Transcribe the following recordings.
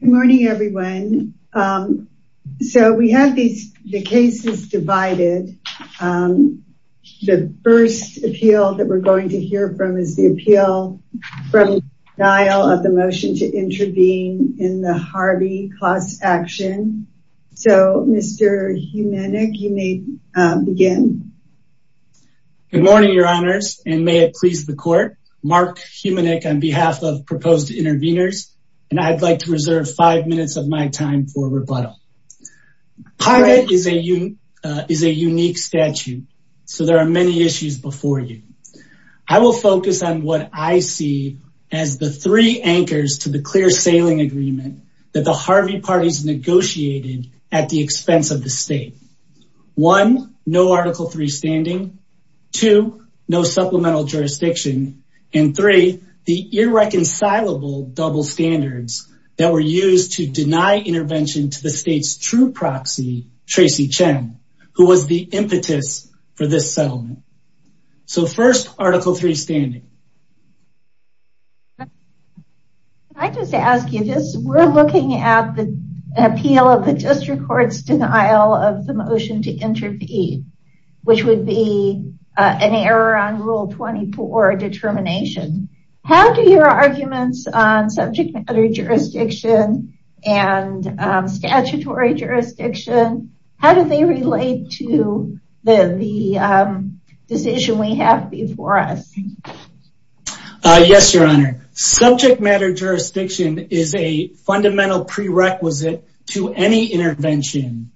Good morning, everyone. So we have these cases divided. The first appeal that we're going to hear from is the appeal from denial of the motion to intervene in the Harvey class action. So Mr. Humanic, you may begin. Good morning, your honors, and may it please the court, Mark Humanic on behalf of Proposed Intervenors, and I'd like to reserve five minutes of my time for rebuttal. Private is a unique statute, so there are many issues before you. I will focus on what I see as the three anchors to the clear sailing agreement that the Harvey parties negotiated at the expense of the state. One, no Article III standing. Two, no supplemental jurisdiction. And three, the irreconcilable double standards that were used to deny intervention to the state's true proxy, Tracy Chen, who was the impetus for this settlement. So first, Article III standing. I just ask you this. We're looking at the appeal of the district court's denial of the motion to intervene, which would be an error on Rule 24 determination. How do your arguments on subject matter jurisdiction and statutory jurisdiction, how do they relate to the decision we have before us? Yes, your honor. Subject matter jurisdiction is a fundamental prerequisite to any intervention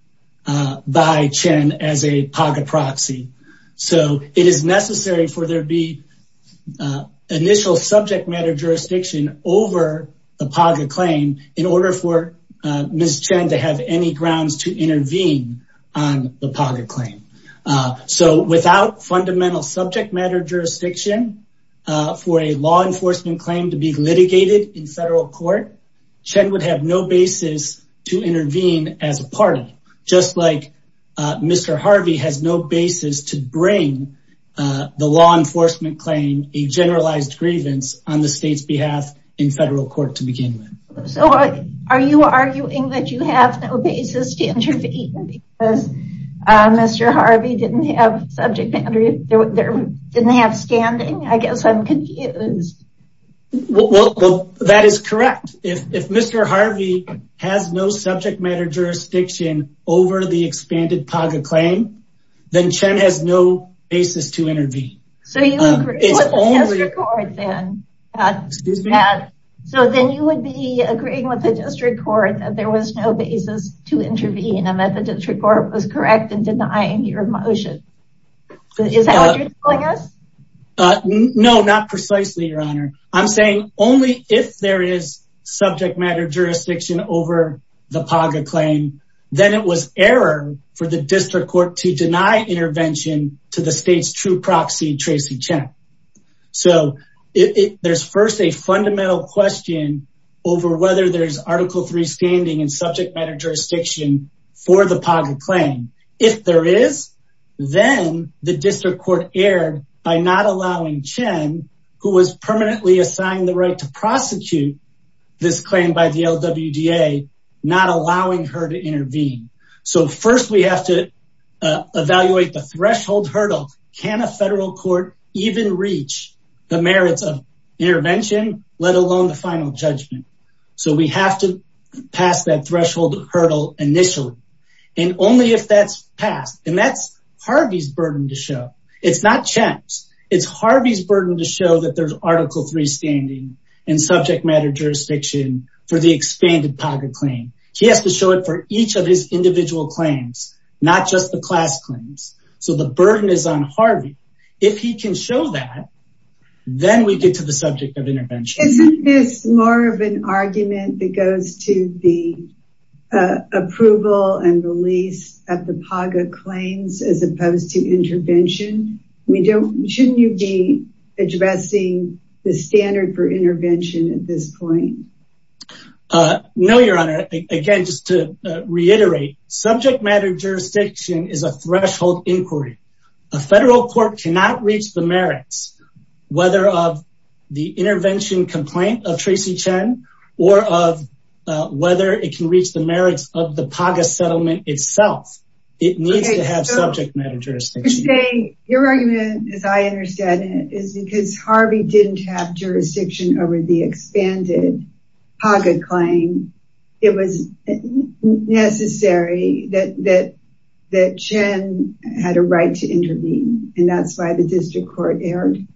by Chen as a PAGA proxy. So it is necessary for there to be initial subject matter jurisdiction over the PAGA claim in order for Ms. Chen to have any grounds to intervene on the PAGA claim. So without fundamental subject matter jurisdiction for a law enforcement claim to be litigated in federal court, Chen would have no basis to intervene as a party. Just like Mr. Harvey has no basis to bring the law enforcement claim a generalized grievance on the state's behalf in federal court to begin with. So are you arguing that you have no basis to intervene? Because Mr. Harvey didn't have subject matter, didn't have standing? I guess I'm confused. Well, that is correct. If Mr. Harvey has no subject matter jurisdiction over the expanded PAGA claim, then Chen has no basis to intervene. So you agree with the district court then? So then you would be agreeing with the district court that there was no basis to intervene and that the district court was correct in denying your motion. Is that what you're telling us? No, not precisely, Your Honor. I'm saying only if there is subject matter jurisdiction over the PAGA claim, then it was error for the district court to deny intervention to the state's true proxy, Tracy Chen. So there's first a fundamental question over whether there's article three standing in subject matter jurisdiction for the PAGA claim. If there is, then the district court erred by not allowing Chen, who was permanently assigned the right to prosecute this claim by the LWDA, not allowing her to intervene. So first we have to evaluate the threshold hurdle. Can a federal court even reach the merits of intervention, let alone the final judgment? So we have to pass that threshold hurdle initially. And only if that's passed, and that's Harvey's burden to show. It's not Chen's. It's Harvey's burden to show that there's article three standing in subject matter jurisdiction for the expanded PAGA claim. He has to show it for each of his individual claims, not just the class claims. So the burden is on Harvey. If he can show that, then we get to the subject of intervention. Isn't this more of an argument that goes to the approval and release of the PAGA claims as opposed to intervention? Shouldn't you be addressing the standard for intervention at this point? No, Your Honor. Again, just to reiterate, subject matter jurisdiction is a threshold inquiry. A federal court cannot reach the merits, whether of the intervention complaint of Tracy Chen, or of whether it can reach the merits of the PAGA settlement itself. It needs to have subject matter jurisdiction. Your argument, as I understand it, is because Harvey didn't have jurisdiction over the expanded PAGA claim, it was necessary that Chen had a right to intervene. And that's why the district court erred.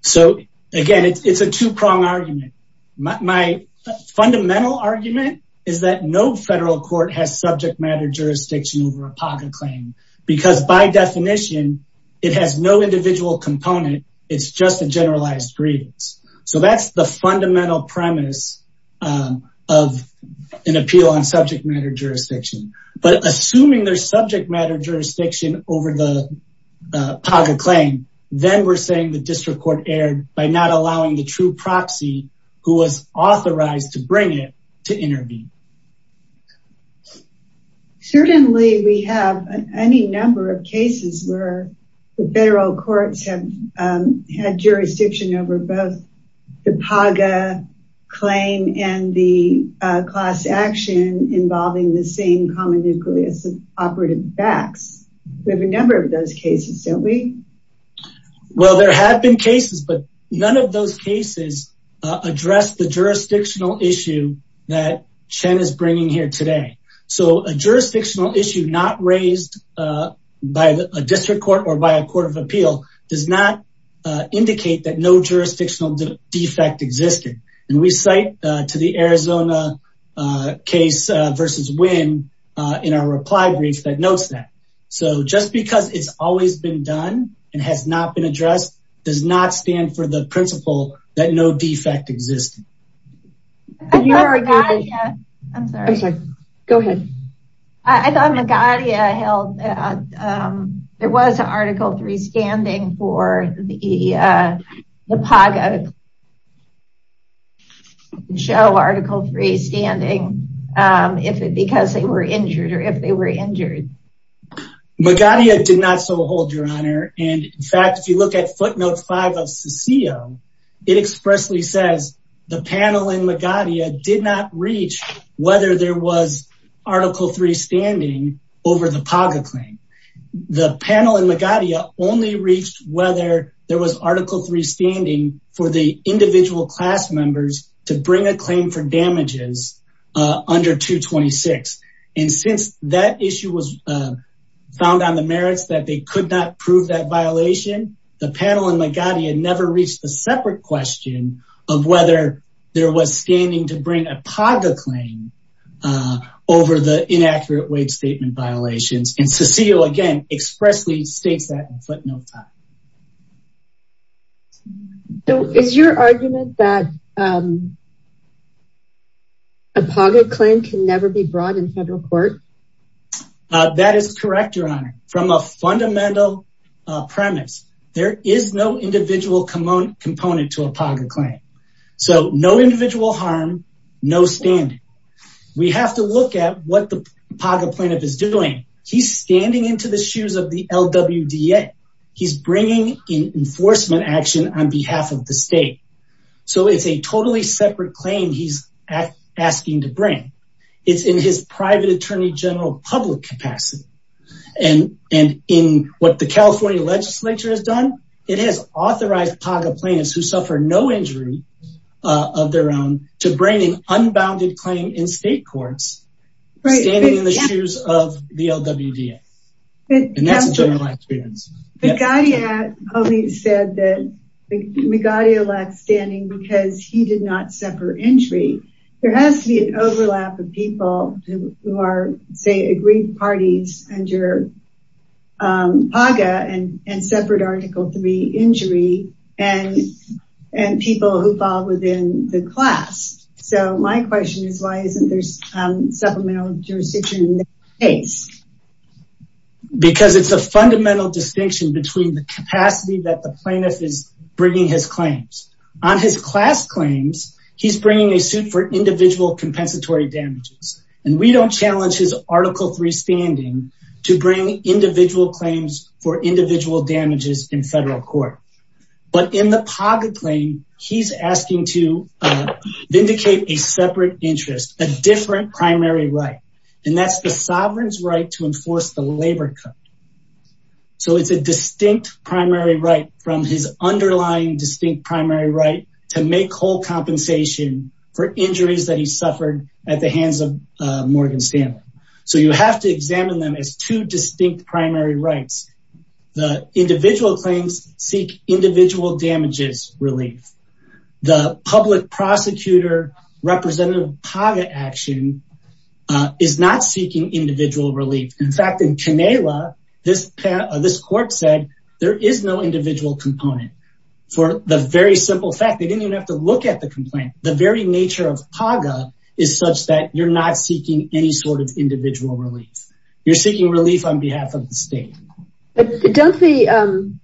So again, it's a two-prong argument. My fundamental argument is that no federal court has subject matter jurisdiction over a PAGA claim, because by definition, it has no individual component. It's just a generalized grievance. So that's the fundamental premise of an appeal on subject matter jurisdiction. But assuming there's subject matter jurisdiction over the PAGA claim, then we're saying the district court erred by not allowing the true proxy who was authorized to bring it to intervene. Certainly, we have any number of cases where the federal courts have had jurisdiction over both the PAGA claim and the class action involving the same common nucleus of operative facts. We have a number of those cases, don't we? Well, there have been cases, but none of those cases address the jurisdictional issue that Chen is bringing here today. So a jurisdictional issue not raised by a district court or by a court of appeal does not indicate that no jurisdictional defect existed. And we cite to the Arizona case versus Wynn in our reply brief that notes that. So just because it's always been done and has not been addressed does not stand for the principle that no defect existed. I thought Magadia held, there was an article three standing for the PAGA show article three standing if it because they were injured or if they were injured. Magadia did not so hold your honor. And in fact, if you look at footnote five of Cecile, it expressly says the panel in Magadia did not reach whether there was article three standing over the PAGA claim. The panel in Magadia only reached whether there was article three standing for the individual class members to bring a claim for damages under 226. And since that issue was found on the merits that they could not prove that violation, the panel in Magadia never reached a separate question of whether there was standing to bring a PAGA claim over the inaccurate wage statement violations. And Cecile again expressly states that in footnote five. So is your argument that a PAGA claim can never be brought in federal court? That is correct your honor. From a fundamental premise, there is no individual component to a PAGA claim. So no individual harm, no standing. We have to look at what the PAGA plaintiff is doing. He's standing into the shoes of the LWDA. He's bringing in enforcement action on behalf of the general public capacity. And in what the California legislature has done, it has authorized PAGA plaintiffs who suffer no injury of their own to bring in unbounded claim in state courts, standing in the shoes of the LWDA. And that's a general experience. Magadia only said that Magadio lacked standing because he did not suffer injury. There has to be an overlap of people who are, say, agreed parties under PAGA and separate article three injury and people who fall within the class. So my question is why isn't there supplemental jurisdiction in this case? Because it's a fundamental distinction between the capacity that the plaintiff is bringing his claims. On his class claims, he's bringing a suit for individual compensatory damages. And we don't challenge his article three standing to bring individual claims for individual damages in federal court. But in the PAGA claim, he's asking to vindicate a separate interest, a different primary right. And that's the sovereign's right to enforce the labor code. So it's a distinct primary right from his underlying distinct primary right to make compensation for injuries that he suffered at the hands of Morgan Stanley. So you have to examine them as two distinct primary rights. The individual claims seek individual damages relief. The public prosecutor representative PAGA action is not seeking individual relief. In fact, in Kinala, this court said there is no individual component. For the very simple fact, they didn't have to look at the complaint. The very nature of PAGA is such that you're not seeking any sort of individual relief. You're seeking relief on behalf of the state. Don't the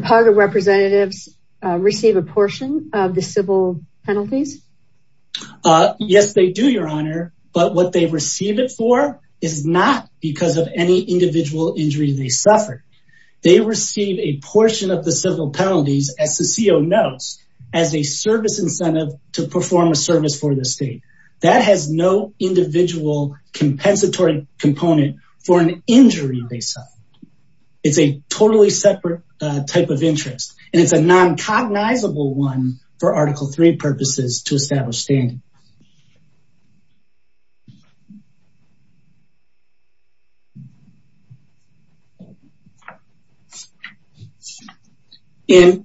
PAGA representatives receive a portion of the civil penalties? Yes, they do, Your Honor. But what they receive it for is not because of any individual injury they suffered. They receive a portion of the civil notes as a service incentive to perform a service for the state. That has no individual compensatory component for an injury they suffered. It's a totally separate type of interest. And it's a non-cognizable one for article three purposes to establish standing. And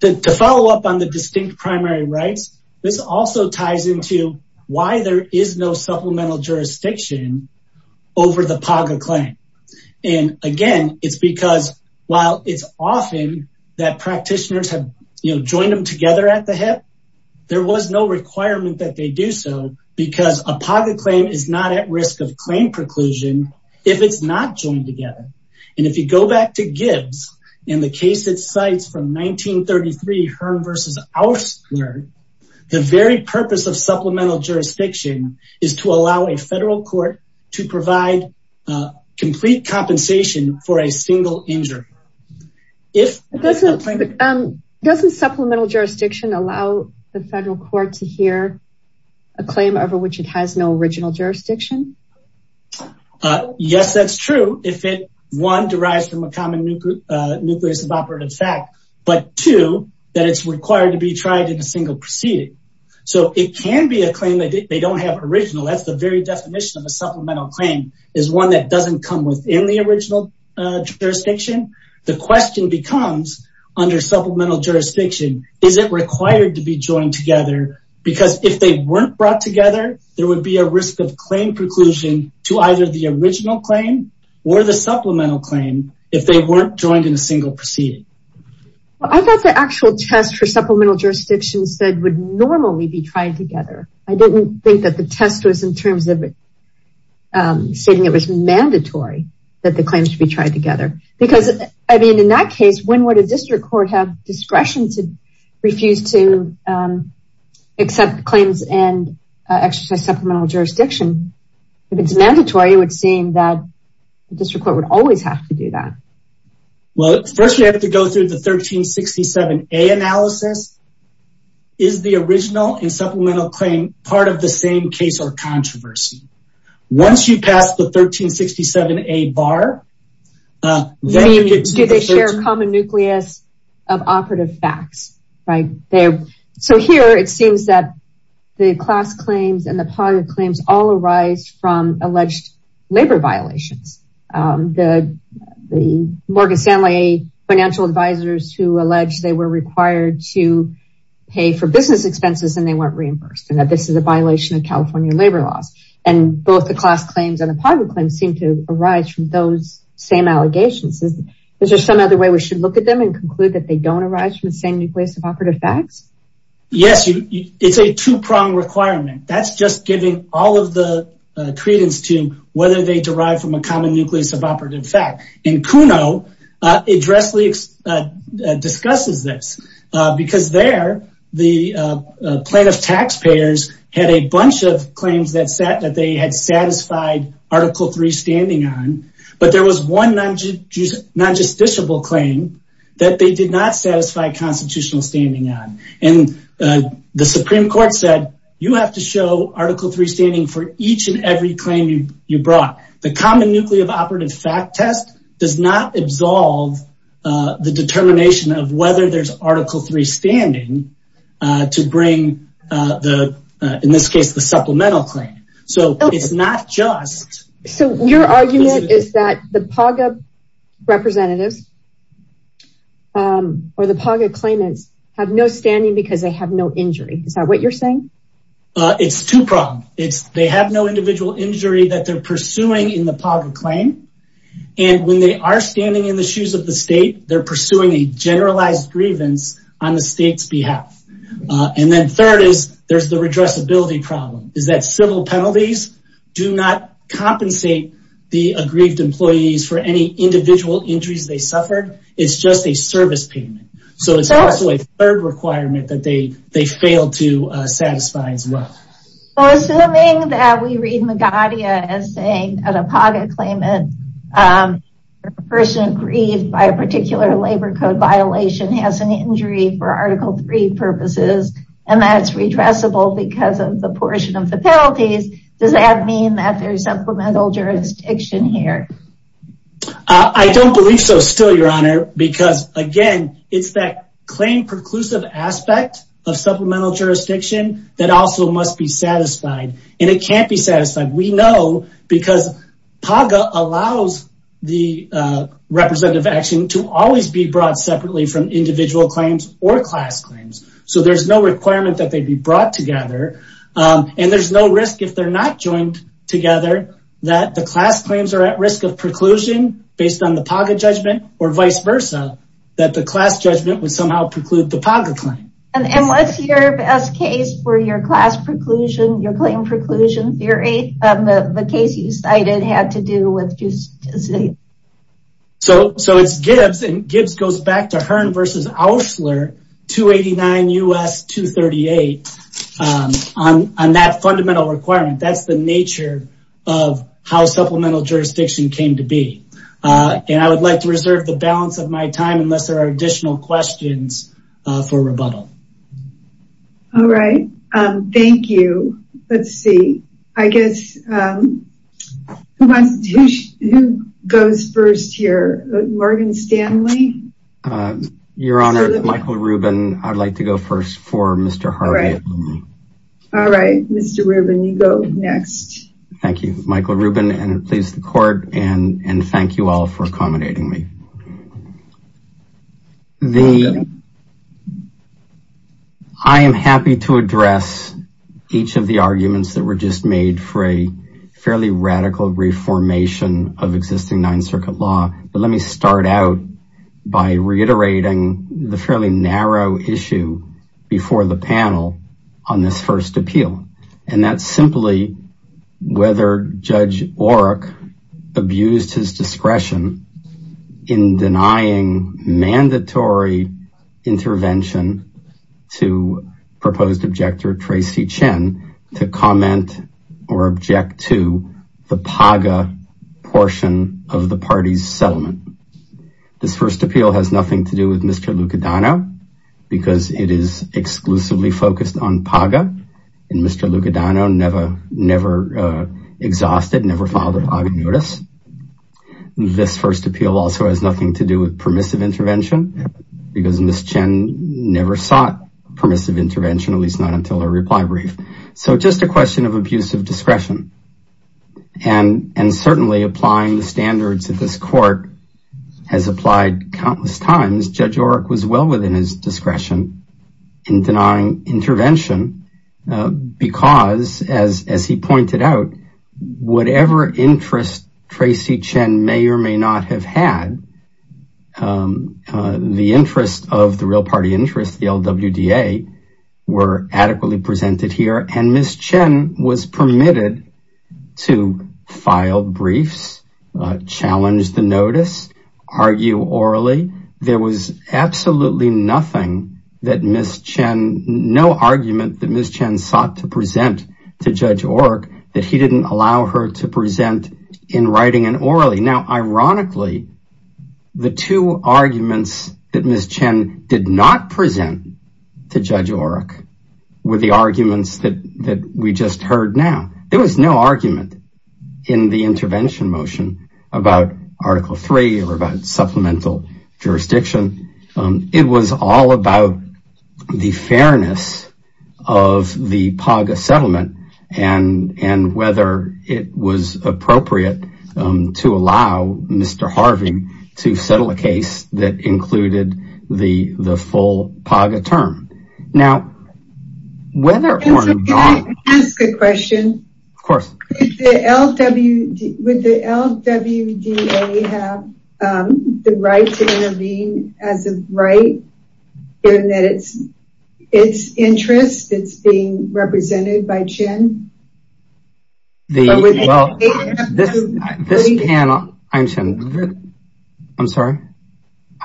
to follow up on the distinct primary rights, this also ties into why there is no supplemental jurisdiction over the PAGA claim. And again, it's because while it's often that practitioners have, you know, joined them together at the hip, there was no requirement that they be do so because a PAGA claim is not at risk of claim preclusion if it's not joined together. And if you go back to Gibbs, in the case that cites from 1933, Hearn versus Oursler, the very purpose of supplemental jurisdiction is to allow a federal court to provide complete compensation for a single injury. Doesn't supplemental jurisdiction allow the federal court to hear a claim over which it has no original jurisdiction? Yes, that's true. If it, one, derives from a common nucleus of operative fact, but two, that it's required to be tried in a single proceeding. So it can be a claim that they don't have original. That's the very definition of a supplemental claim is one that doesn't come within the original jurisdiction. The question becomes under supplemental jurisdiction, is it required to be joined together? Because if they weren't brought together, there would be a risk of claim preclusion to either the original claim or the supplemental claim if they weren't joined in a single proceeding. Well, I thought the actual test for supplemental jurisdictions that would normally be tried together. I didn't think that the test was in terms of stating it was mandatory that the claims to be tried together. Because, I mean, in that case, when would a district court have discretion to refuse to accept claims and exercise supplemental jurisdiction? If it's mandatory, it would seem that the district court would always have to do that. Well, first you have to go through the 1367a analysis. Is the original and supplemental claim part of the same case or controversy? Once you pass the 1367a bar. Do they share a common nucleus of operative facts? So here it seems that the class claims and the poverty claims all arise from alleged labor violations. The Morgan Stanley financial advisors who alleged they were required to pay for business expenses and they weren't reimbursed and that this is a violation of both the class claims and the poverty claims seem to arise from those same allegations. Is there some other way we should look at them and conclude that they don't arise from the same nucleus of operative facts? Yes, it's a two-pronged requirement. That's just giving all of the credence to whether they derive from a common nucleus of operative fact. In Kuno, it dressly discusses this because there the plaintiff taxpayers had a bunch of that they had satisfied article three standing on but there was one non-justiciable claim that they did not satisfy constitutional standing on and the Supreme Court said you have to show article three standing for each and every claim you brought. The common nucleus of operative fact test does not absolve the determination of whether there's article three standing to bring the in this case the supplemental claim. So it's not just so your argument is that the PAGA representatives or the PAGA claimants have no standing because they have no injury. Is that what you're saying? It's two-pronged. It's they have no individual injury that they're pursuing in the PAGA claim and when they are standing in the shoes of the state they're pursuing a and then third is there's the redressability problem is that civil penalties do not compensate the aggrieved employees for any individual injuries they suffered. It's just a service payment. So it's also a third requirement that they they failed to satisfy as well. Well assuming that we read Magadia as saying at a PAGA claimant a person aggrieved by a particular labor code violation has an injury for article three purposes and that's redressable because of the portion of the penalties. Does that mean that there's supplemental jurisdiction here? I don't believe so still your honor because again it's that claim preclusive aspect of supplemental jurisdiction that also must be satisfied and it can't be satisfied. We know because PAGA allows the representative action to always be brought separately from individual claims or class claims. So there's no requirement that they'd be brought together and there's no risk if they're not joined together that the class claims are at risk of preclusion based on the PAGA judgment or vice versa that the class judgment would somehow preclude the PAGA claim. And what's your best case for your class preclusion your claim preclusion theory of the case you cited had to do with just so so it's Gibbs and Gibbs goes back to Hearn versus Auschler 289 U.S. 238 on on that fundamental requirement that's the nature of how supplemental jurisdiction came to be. And I would like to reserve the balance of my time unless there are additional questions for rebuttal. All right thank you. Let's see I guess who goes first here Morgan Stanley. Your honor Michael Rubin I'd like to go first for Mr. Harvey. All right Mr. Rubin you go next. Thank you Michael Rubin and please the court and and thank you all for accommodating me. The I am happy to address each of the arguments that were just made for a fairly radical reformation of existing Ninth Circuit law but let me start out by reiterating the fairly narrow issue before the panel on this first appeal and that's simply whether Judge Oreck abused his denying mandatory intervention to proposed objector Tracy Chen to comment or object to the PAGA portion of the party's settlement. This first appeal has nothing to do with Mr. Lucadano because it is exclusively focused on PAGA and Mr. Lucadano never never exhausted never filed a notice. This first appeal also has nothing to do with permissive intervention because Ms. Chen never sought permissive intervention at least not until her reply brief. So just a question of abusive discretion and and certainly applying the standards that this court has applied countless times Judge Oreck was well within his discretion in denying intervention uh because as as he pointed out whatever interest Tracy Chen may or may not have had um the interest of the real party interest the LWDA were adequately presented here and Ms. Chen was permitted to file briefs, challenge the notice, argue orally. There was absolutely nothing that Ms. Chen no argument that Ms. Chen sought to present to Judge Oreck that he didn't allow her to present in writing and orally. Now ironically the two arguments that Ms. Chen did not present to Judge Oreck were the arguments that that we just heard now. There was no argument in the intervention motion about article three or about supplemental jurisdiction. It was all about the fairness of the PAGA settlement and and whether it was appropriate to allow Mr. Harvey to settle a case that included the the full PAGA term. Now whether or not... Of course. Would the LWDA have the right to intervene as a right given that it's it's interest it's being represented by Chen? I'm sorry.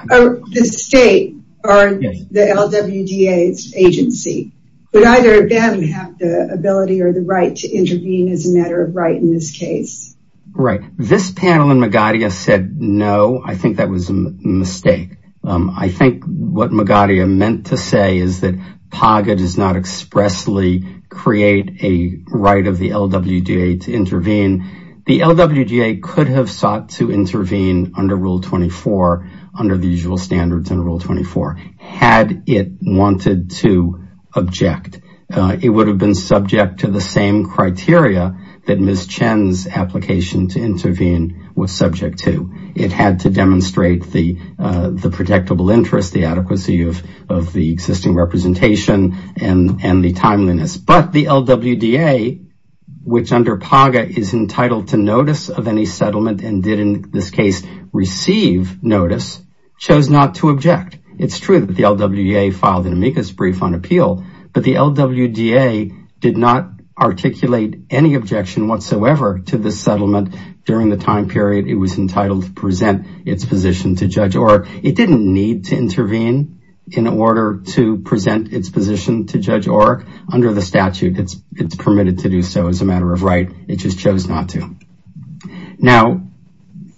The state or the LWDA's agency would either of them have the ability or the right to intervene as a matter of right in this case? Right. This panel and Magadia said no. I think that was a mistake. I think what Magadia meant to say is that PAGA does not expressly create a right of the LWDA to intervene. The LWDA could have sought to intervene under rule 24 under the usual criteria that Ms. Chen's application to intervene was subject to. It had to demonstrate the the protectable interest the adequacy of of the existing representation and and the timeliness. But the LWDA which under PAGA is entitled to notice of any settlement and did in this case receive notice chose not to object. It's true that the LWDA filed an amicus brief on appeal but the LWDA did not articulate any objection whatsoever to this settlement during the time period it was entitled to present its position to Judge Orrick. It didn't need to intervene in order to present its position to Judge Orrick. Under the statute it's it's permitted to do so as a matter of right. It just chose not to. Now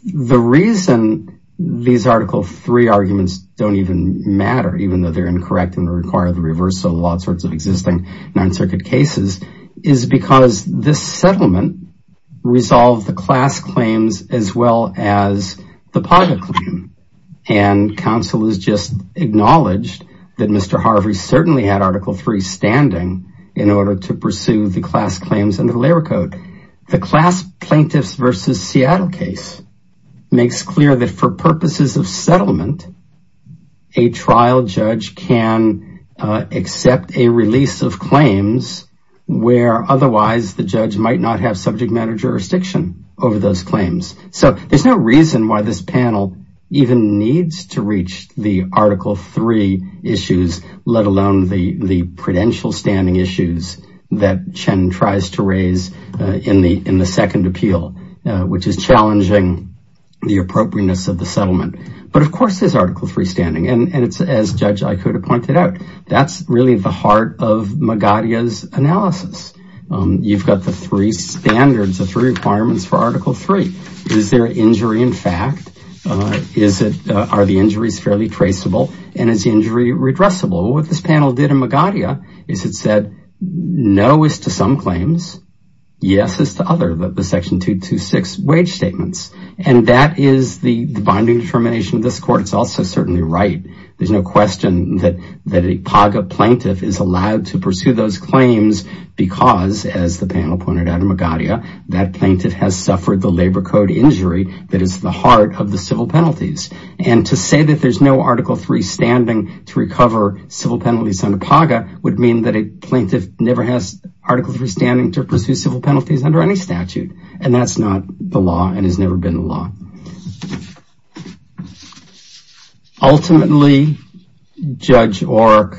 the reason these article three arguments don't even even though they're incorrect and require the reverse of a lot of sorts of existing non-circuit cases is because this settlement resolved the class claims as well as the PAGA claim and counsel is just acknowledged that Mr. Harvey certainly had article three standing in order to pursue the class claims and the layer code. The class plaintiffs versus Seattle case makes clear that for purposes of settlement a trial judge can accept a release of claims where otherwise the judge might not have subject matter jurisdiction over those claims. So there's no reason why this panel even needs to reach the article three issues let alone the the appropriateness of the settlement. But of course there's article three standing and and it's as Judge Ikuda pointed out that's really the heart of Magadia's analysis. You've got the three standards the three requirements for article three. Is there injury in fact? Is it are the injuries fairly traceable and is injury redressable? What this panel did in Magadia is it said no is to some and that is the bonding determination of this court. It's also certainly right there's no question that that a PAGA plaintiff is allowed to pursue those claims because as the panel pointed out in Magadia that plaintiff has suffered the labor code injury that is the heart of the civil penalties and to say that there's no article three standing to recover civil penalties under PAGA would mean that a plaintiff never has article three standing to pursue civil penalties under any statute and that's not the law and has never been the law. Ultimately Judge Orr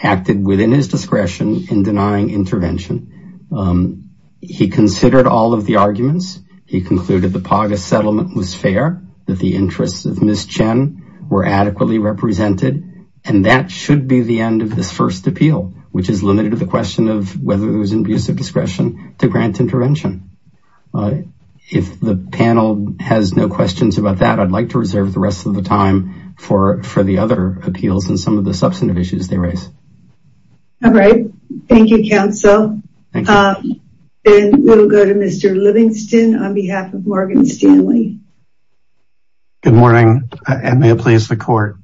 acted within his discretion in denying intervention. He considered all of the arguments. He concluded the PAGA settlement was fair that the interests of Ms. Chen were adequately represented and that should be the end of this first appeal which is limited to the question of whether it was abuse of discretion to grant intervention. If the panel has no questions about that I'd like to reserve the rest of the time for for the other appeals and some of the substantive issues they raise. All right thank you counsel and we'll go to Mr. Livingston on behalf of Morgan Stanley. Good morning and may it please the court.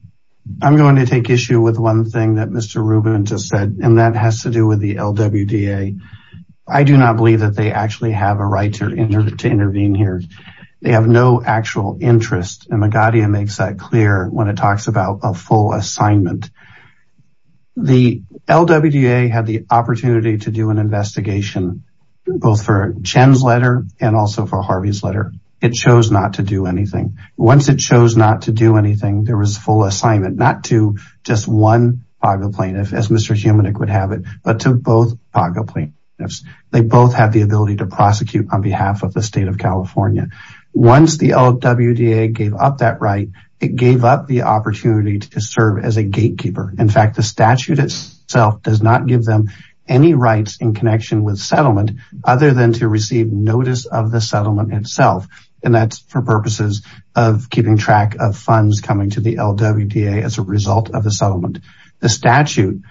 I'm going to take issue with one thing that Mr. Rubin just said and that has to do with the LWDA. I do not believe that they actually have a right to intervene here. They have no actual interest and Magadia makes that clear when it talks about a full assignment. The LWDA had the opportunity to do an investigation both for Chen's letter and also for Harvey's letter. It chose not to do anything. Once it chose not to do anything there was full assignment not to just one PAGA plaintiff as Mr. Humanik would have it but to both PAGA plaintiffs. They both have the ability to prosecute on behalf of the state of California. Once the LWDA gave up that right it gave up the opportunity to serve as a gatekeeper. In fact the statute itself does not give them any rights in connection with settlement other than to receive notice of the settlement itself and that's for purposes of keeping track of funds coming to the LWDA as a result of the settlement. The statute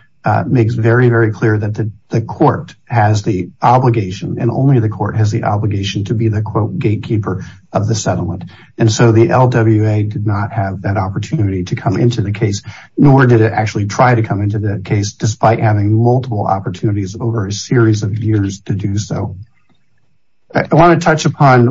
makes very very clear that the court has the obligation and only the court has the obligation to be the quote gatekeeper of the settlement and so the LWA did not have that opportunity to come into the case nor did it actually try to come into the case despite having multiple opportunities over a series of years to do so. I want to touch upon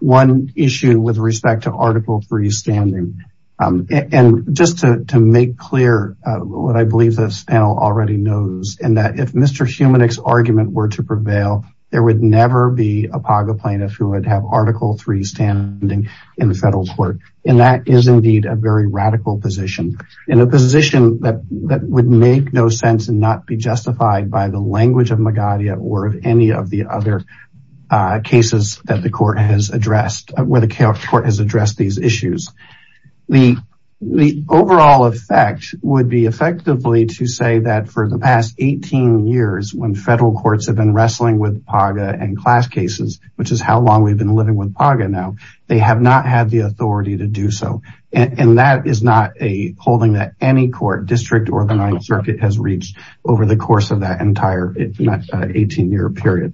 one issue with respect to article 3 standing and just to make clear what I believe this panel already knows and that if Mr. Humanik's argument were to prevail there would never be a PAGA plaintiff who would have article 3 standing in the federal court and that is indeed a very radical position in a position that would make no sense and not be justified by the language of Magadha or of any of the other cases that the court has addressed where the court has addressed these issues. The overall effect would be effectively to say that for the past 18 years when federal courts have been wrestling with PAGA and class cases which is how long we've been living with now they have not had the authority to do so and that is not a holding that any court district or the ninth circuit has reached over the course of that entire 18 year period.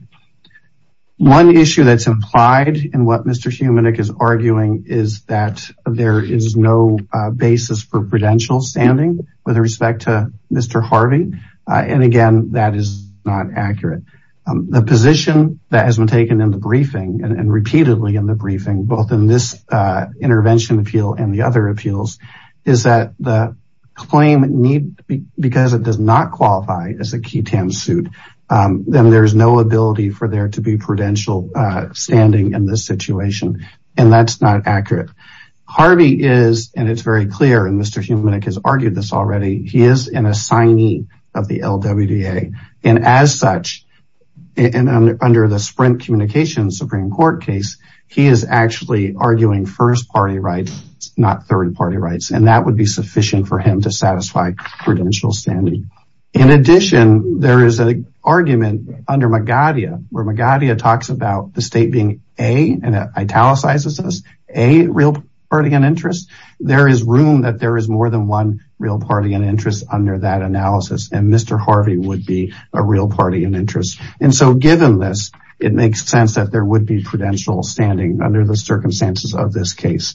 One issue that's implied in what Mr. Humanik is arguing is that there is no basis for prudential standing with respect to Mr. Harvey and again that is not accurate. The position that has been taken in and repeatedly in the briefing both in this intervention appeal and the other appeals is that the claim need because it does not qualify as a QITAM suit then there's no ability for there to be prudential standing in this situation and that's not accurate. Harvey is and it's very clear and Mr. Humanik has argued this already he is an assignee of the LWDA and as such and under the Sprint Communications Supreme Court case he is actually arguing first party rights not third party rights and that would be sufficient for him to satisfy prudential standing. In addition there is an argument under Magadha where Magadha talks about the state being a and italicizes us a real party and interest there is room that there is more than one real party and interest under that analysis and Mr. Harvey would be a real party and interest and so given this it makes sense that there would be prudential standing under the circumstances of this case.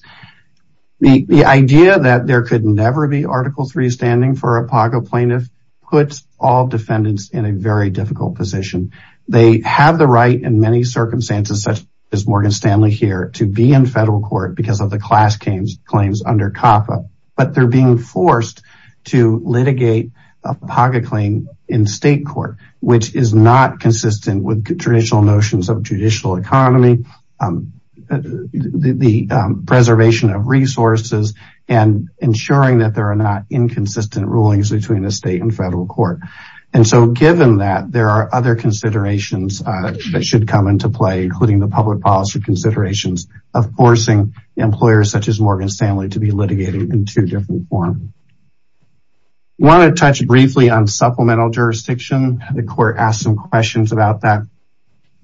The idea that there could never be article three standing for a PAGO plaintiff puts all defendants in a very difficult position. They have the right in many circumstances such as Morgan Stanley here to be in federal court because of the class claims under COPPA but they're being forced to litigate a PAGO claim in state court which is not consistent with traditional notions of judicial economy the preservation of resources and ensuring that there are not inconsistent rulings between the state and federal court and so given that there are other considerations that should come into play including the public policy considerations of forcing employers such as Morgan Stanley to be litigated in two different forms. I want to touch briefly on supplemental jurisdiction. The court asked some questions about that.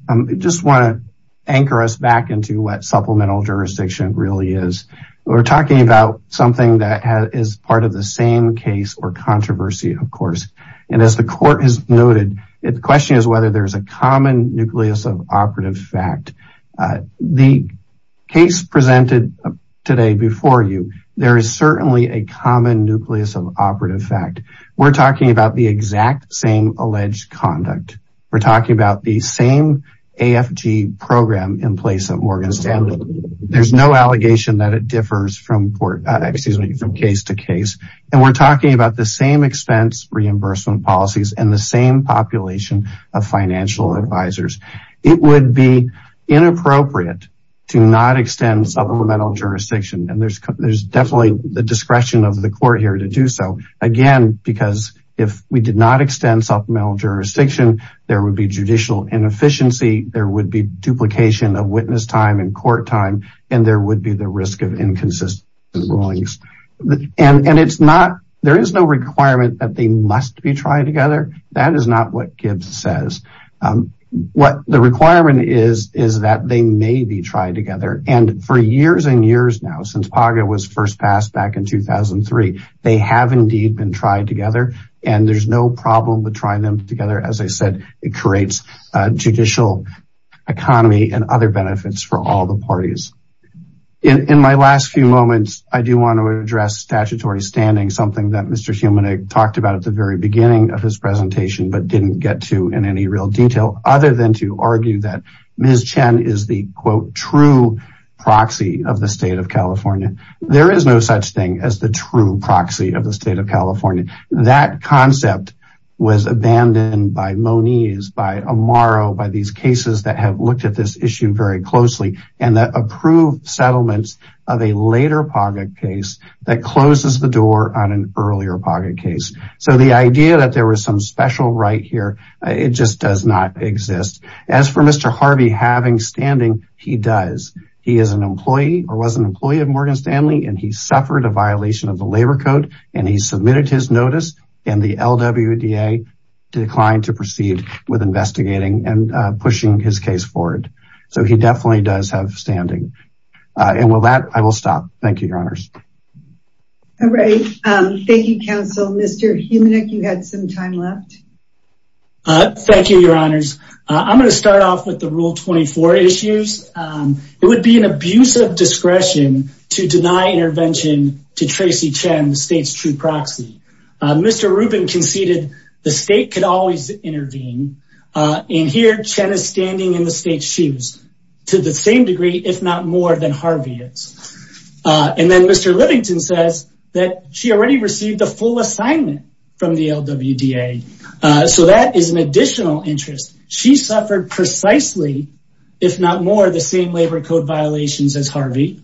I just want to anchor us back into what supplemental jurisdiction really is. We're talking about something that is part of the same case or controversy of course and as the court has noted the question is whether there's a common nucleus of operative fact. The case presented today before you there is certainly a common nucleus of operative fact. We're talking about the exact same alleged conduct. We're talking about the same AFG program in place of Morgan Stanley. There's no allegation that it differs from case to case and we're talking about the same expense reimbursement policies and the same population of financial advisors. It would be inappropriate to not extend supplemental jurisdiction and there's definitely the discretion of the court here to do so again because if we did not extend supplemental jurisdiction there would be judicial inefficiency. There would be duplication of witness time and court time and there would be the risk of inconsistent rulings and it's not there is no requirement that they must be tried together. That is not what Gibbs says. What the requirement is is that they may be tried together and for years and years now since PAGA was first passed back in 2003 they have indeed been tried together and there's no problem with trying them together. As I said it creates a judicial economy and other benefits for all the talked about at the very beginning of his presentation but didn't get to in any real detail other than to argue that Ms. Chen is the quote true proxy of the state of California. There is no such thing as the true proxy of the state of California. That concept was abandoned by Moniz, by Amaro, by these cases that have looked at this issue very closely and that approved settlements of a later PAGA case that closes the door on an earlier PAGA case. So the idea that there was some special right here it just does not exist. As for Mr. Harvey having standing he does. He is an employee or was an employee of Morgan Stanley and he suffered a violation of the labor code and he submitted his notice and the LWDA declined to proceed with investigating and he definitely does have standing. And with that I will stop. Thank you your honors. All right thank you counsel. Mr. Heumannick you had some time left. Thank you your honors. I'm going to start off with the rule 24 issues. It would be an abuse of discretion to deny intervention to Tracy Chen the state's true proxy. Mr. Rubin conceded the standing in the state's shoes to the same degree if not more than Harvey is. And then Mr. Livington says that she already received a full assignment from the LWDA. So that is an additional interest. She suffered precisely if not more the same labor code violations as Harvey.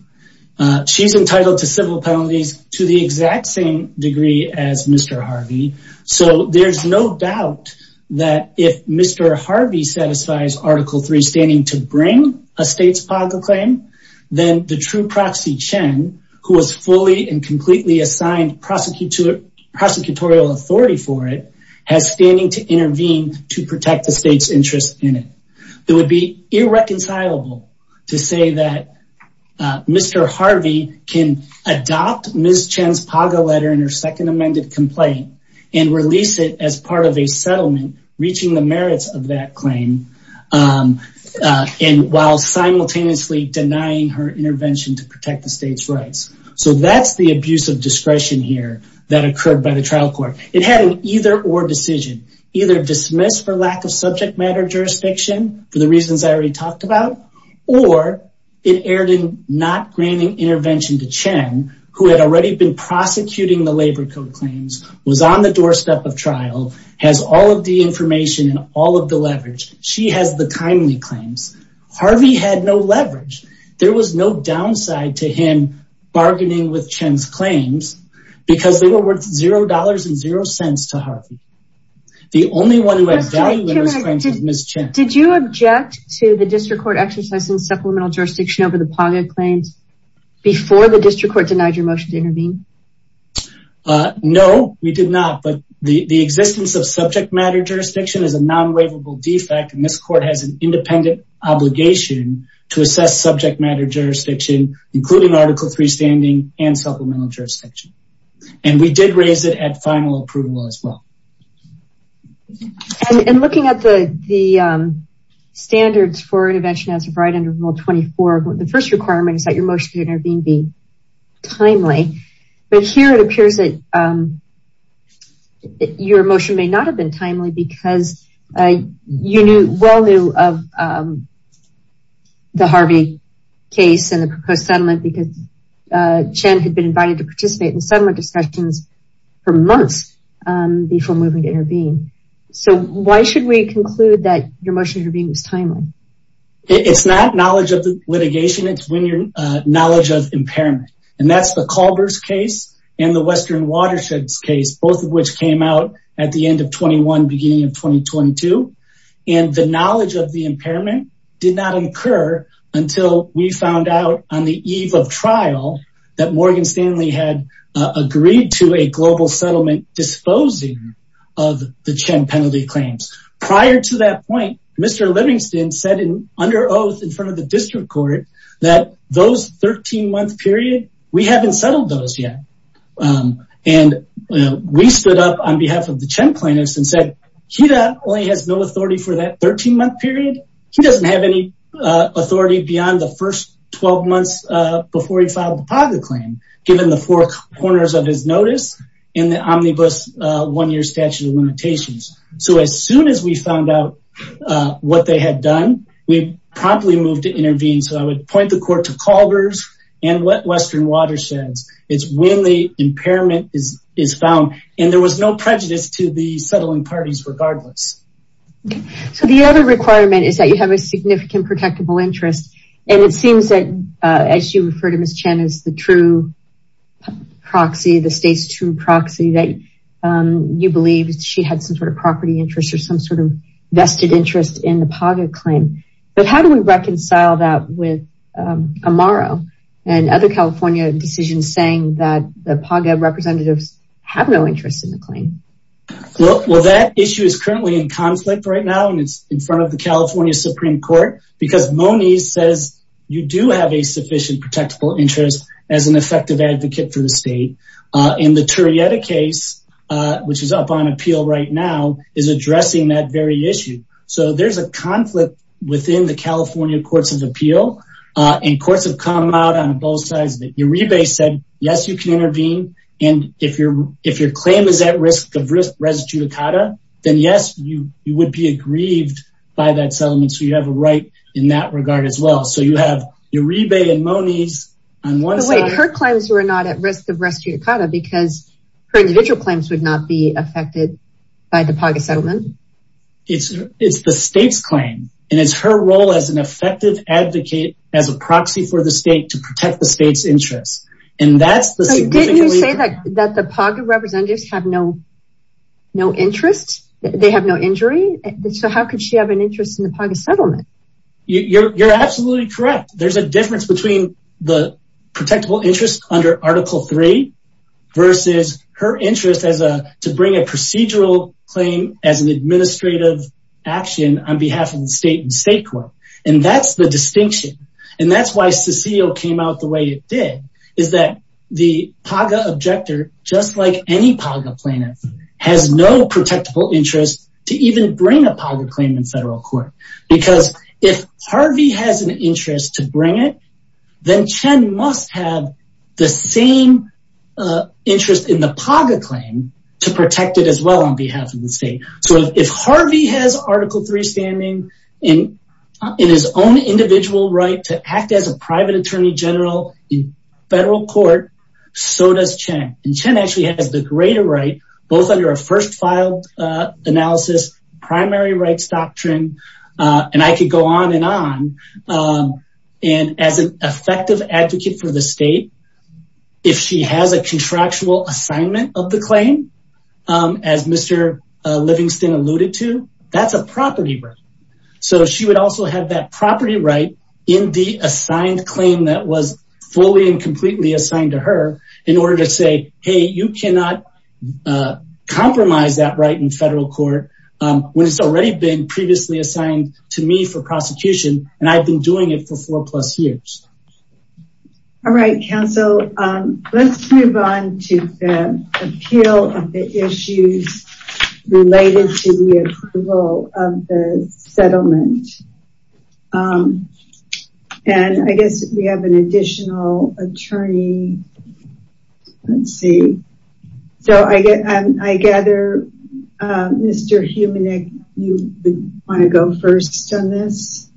She's entitled to civil penalties to the exact same degree as Mr. Harvey. So there's no doubt that if Mr. Harvey satisfies article 3 standing to bring a state's PAGA claim then the true proxy Chen who was fully and completely assigned prosecutorial authority for it has standing to intervene to protect the state's interest in it. It would be irreconcilable to say that Mr. Harvey can adopt Ms. Chen's PAGA letter in her second amended complaint and release it as settlement. Reaching the merits of that claim and while simultaneously denying her intervention to protect the state's rights. So that's the abuse of discretion here that occurred by the trial court. It had an either or decision. Either dismiss for lack of subject matter jurisdiction for the reasons I already talked about or it erred in not granting intervention to Chen who had already been prosecuting the labor code claims, was on the doorstep of trial, has all of the information and all of the leverage. She has the timely claims. Harvey had no leverage. There was no downside to him bargaining with Chen's claims because they were worth zero dollars and zero cents to Harvey. The only one who had value in those claims was Ms. Chen. Did you object to the district court exercising supplemental jurisdiction over the PAGA claims before the intervention? No, we did not. But the existence of subject matter jurisdiction is a non-waivable defect and this court has an independent obligation to assess subject matter jurisdiction including article 3 standing and supplemental jurisdiction. And we did raise it at final approval as well. And looking at the standards for intervention as of right under rule 24, the first requirement is that your motion to intervene be timely. But here it appears that your motion may not have been timely because you well knew of the Harvey case and the proposed settlement because Chen had been invited to participate in settlement discussions for months before moving to intervene. So why should we conclude that your motion to intervene was timely? It's not knowledge of the litigation, it's when your knowledge of impairment. And that's the Culbers case and the Western Watersheds case, both of which came out at the end of 21 beginning of 2022. And the knowledge of the impairment did not incur until we found out on the eve of trial that Morgan Stanley had agreed to a global settlement disposing of the Chen penalty claims. Prior to that point, Mr. Livingston said under oath in front of the district court that those 13-month period, we haven't settled those yet. And we stood up on behalf of the Chen plaintiffs and said, he only has no authority for that 13-month period. He doesn't have any authority beyond the first 12 months before he filed the Paga claim given the four corners of notice and the omnibus one-year statute of limitations. So as soon as we found out what they had done, we promptly moved to intervene. So I would point the court to Culbers and Western Watersheds. It's when the impairment is found. And there was no prejudice to the settling parties regardless. So the other requirement is that you have a significant protectable interest. And it seems that as you refer to Ms. Chen as the true proxy, the state's true proxy that you believe she had some sort of property interests or some sort of vested interest in the Paga claim. But how do we reconcile that with Amaro and other California decisions saying that the Paga representatives have no interest in the claim? Well, that issue is currently in you do have a sufficient protectable interest as an effective advocate for the state. In the Turrieta case, which is up on appeal right now is addressing that very issue. So there's a conflict within the California courts of appeal. And courts have come out on both sides that Uribe said, yes, you can intervene. And if your claim is at risk of res judicata, then yes, you would be aggrieved by that settlement. So you have a right in that regard as well. So you have Uribe and Moniz on one side. Wait, her claims were not at risk of res judicata because her individual claims would not be affected by the Paga settlement. It's the state's claim. And it's her role as an effective advocate as a proxy for the state to protect the state's interests. And that's the Didn't you say that the Paga representatives have no interest? They have no injury. So how could she have an interest in the Paga settlement? You're absolutely correct. There's a difference between the protectable interest under article three versus her interest as a to bring a procedural claim as an administrative action on behalf of the state and state court. And that's the Paga objector, just like any Paga plaintiff has no protectable interest to even bring a Paga claim in federal court. Because if Harvey has an interest to bring it, then Chen must have the same interest in the Paga claim to protect it as well on behalf of the state. So if Harvey has article three standing in his own individual right to act as a private attorney general in federal court, so does Chen. And Chen actually has the greater right, both under a first filed analysis primary rights doctrine. And I could go on and on. And as an effective advocate for the state, if she has a contractual assignment of the claim, as Mr. Livingston alluded to, that's a property right. So she would also have that property right in the assigned claim that was fully and completely assigned to her in order to say, hey, you cannot compromise that right in federal court when it's already been previously assigned to me for prosecution. And I've been doing it for four plus years. All right, counsel, let's move on to the appeal of issues related to the approval of the settlement. And I guess we have an additional attorney. Let's see. So I get, I gather, Mr. Heumannick, you want to go first on this?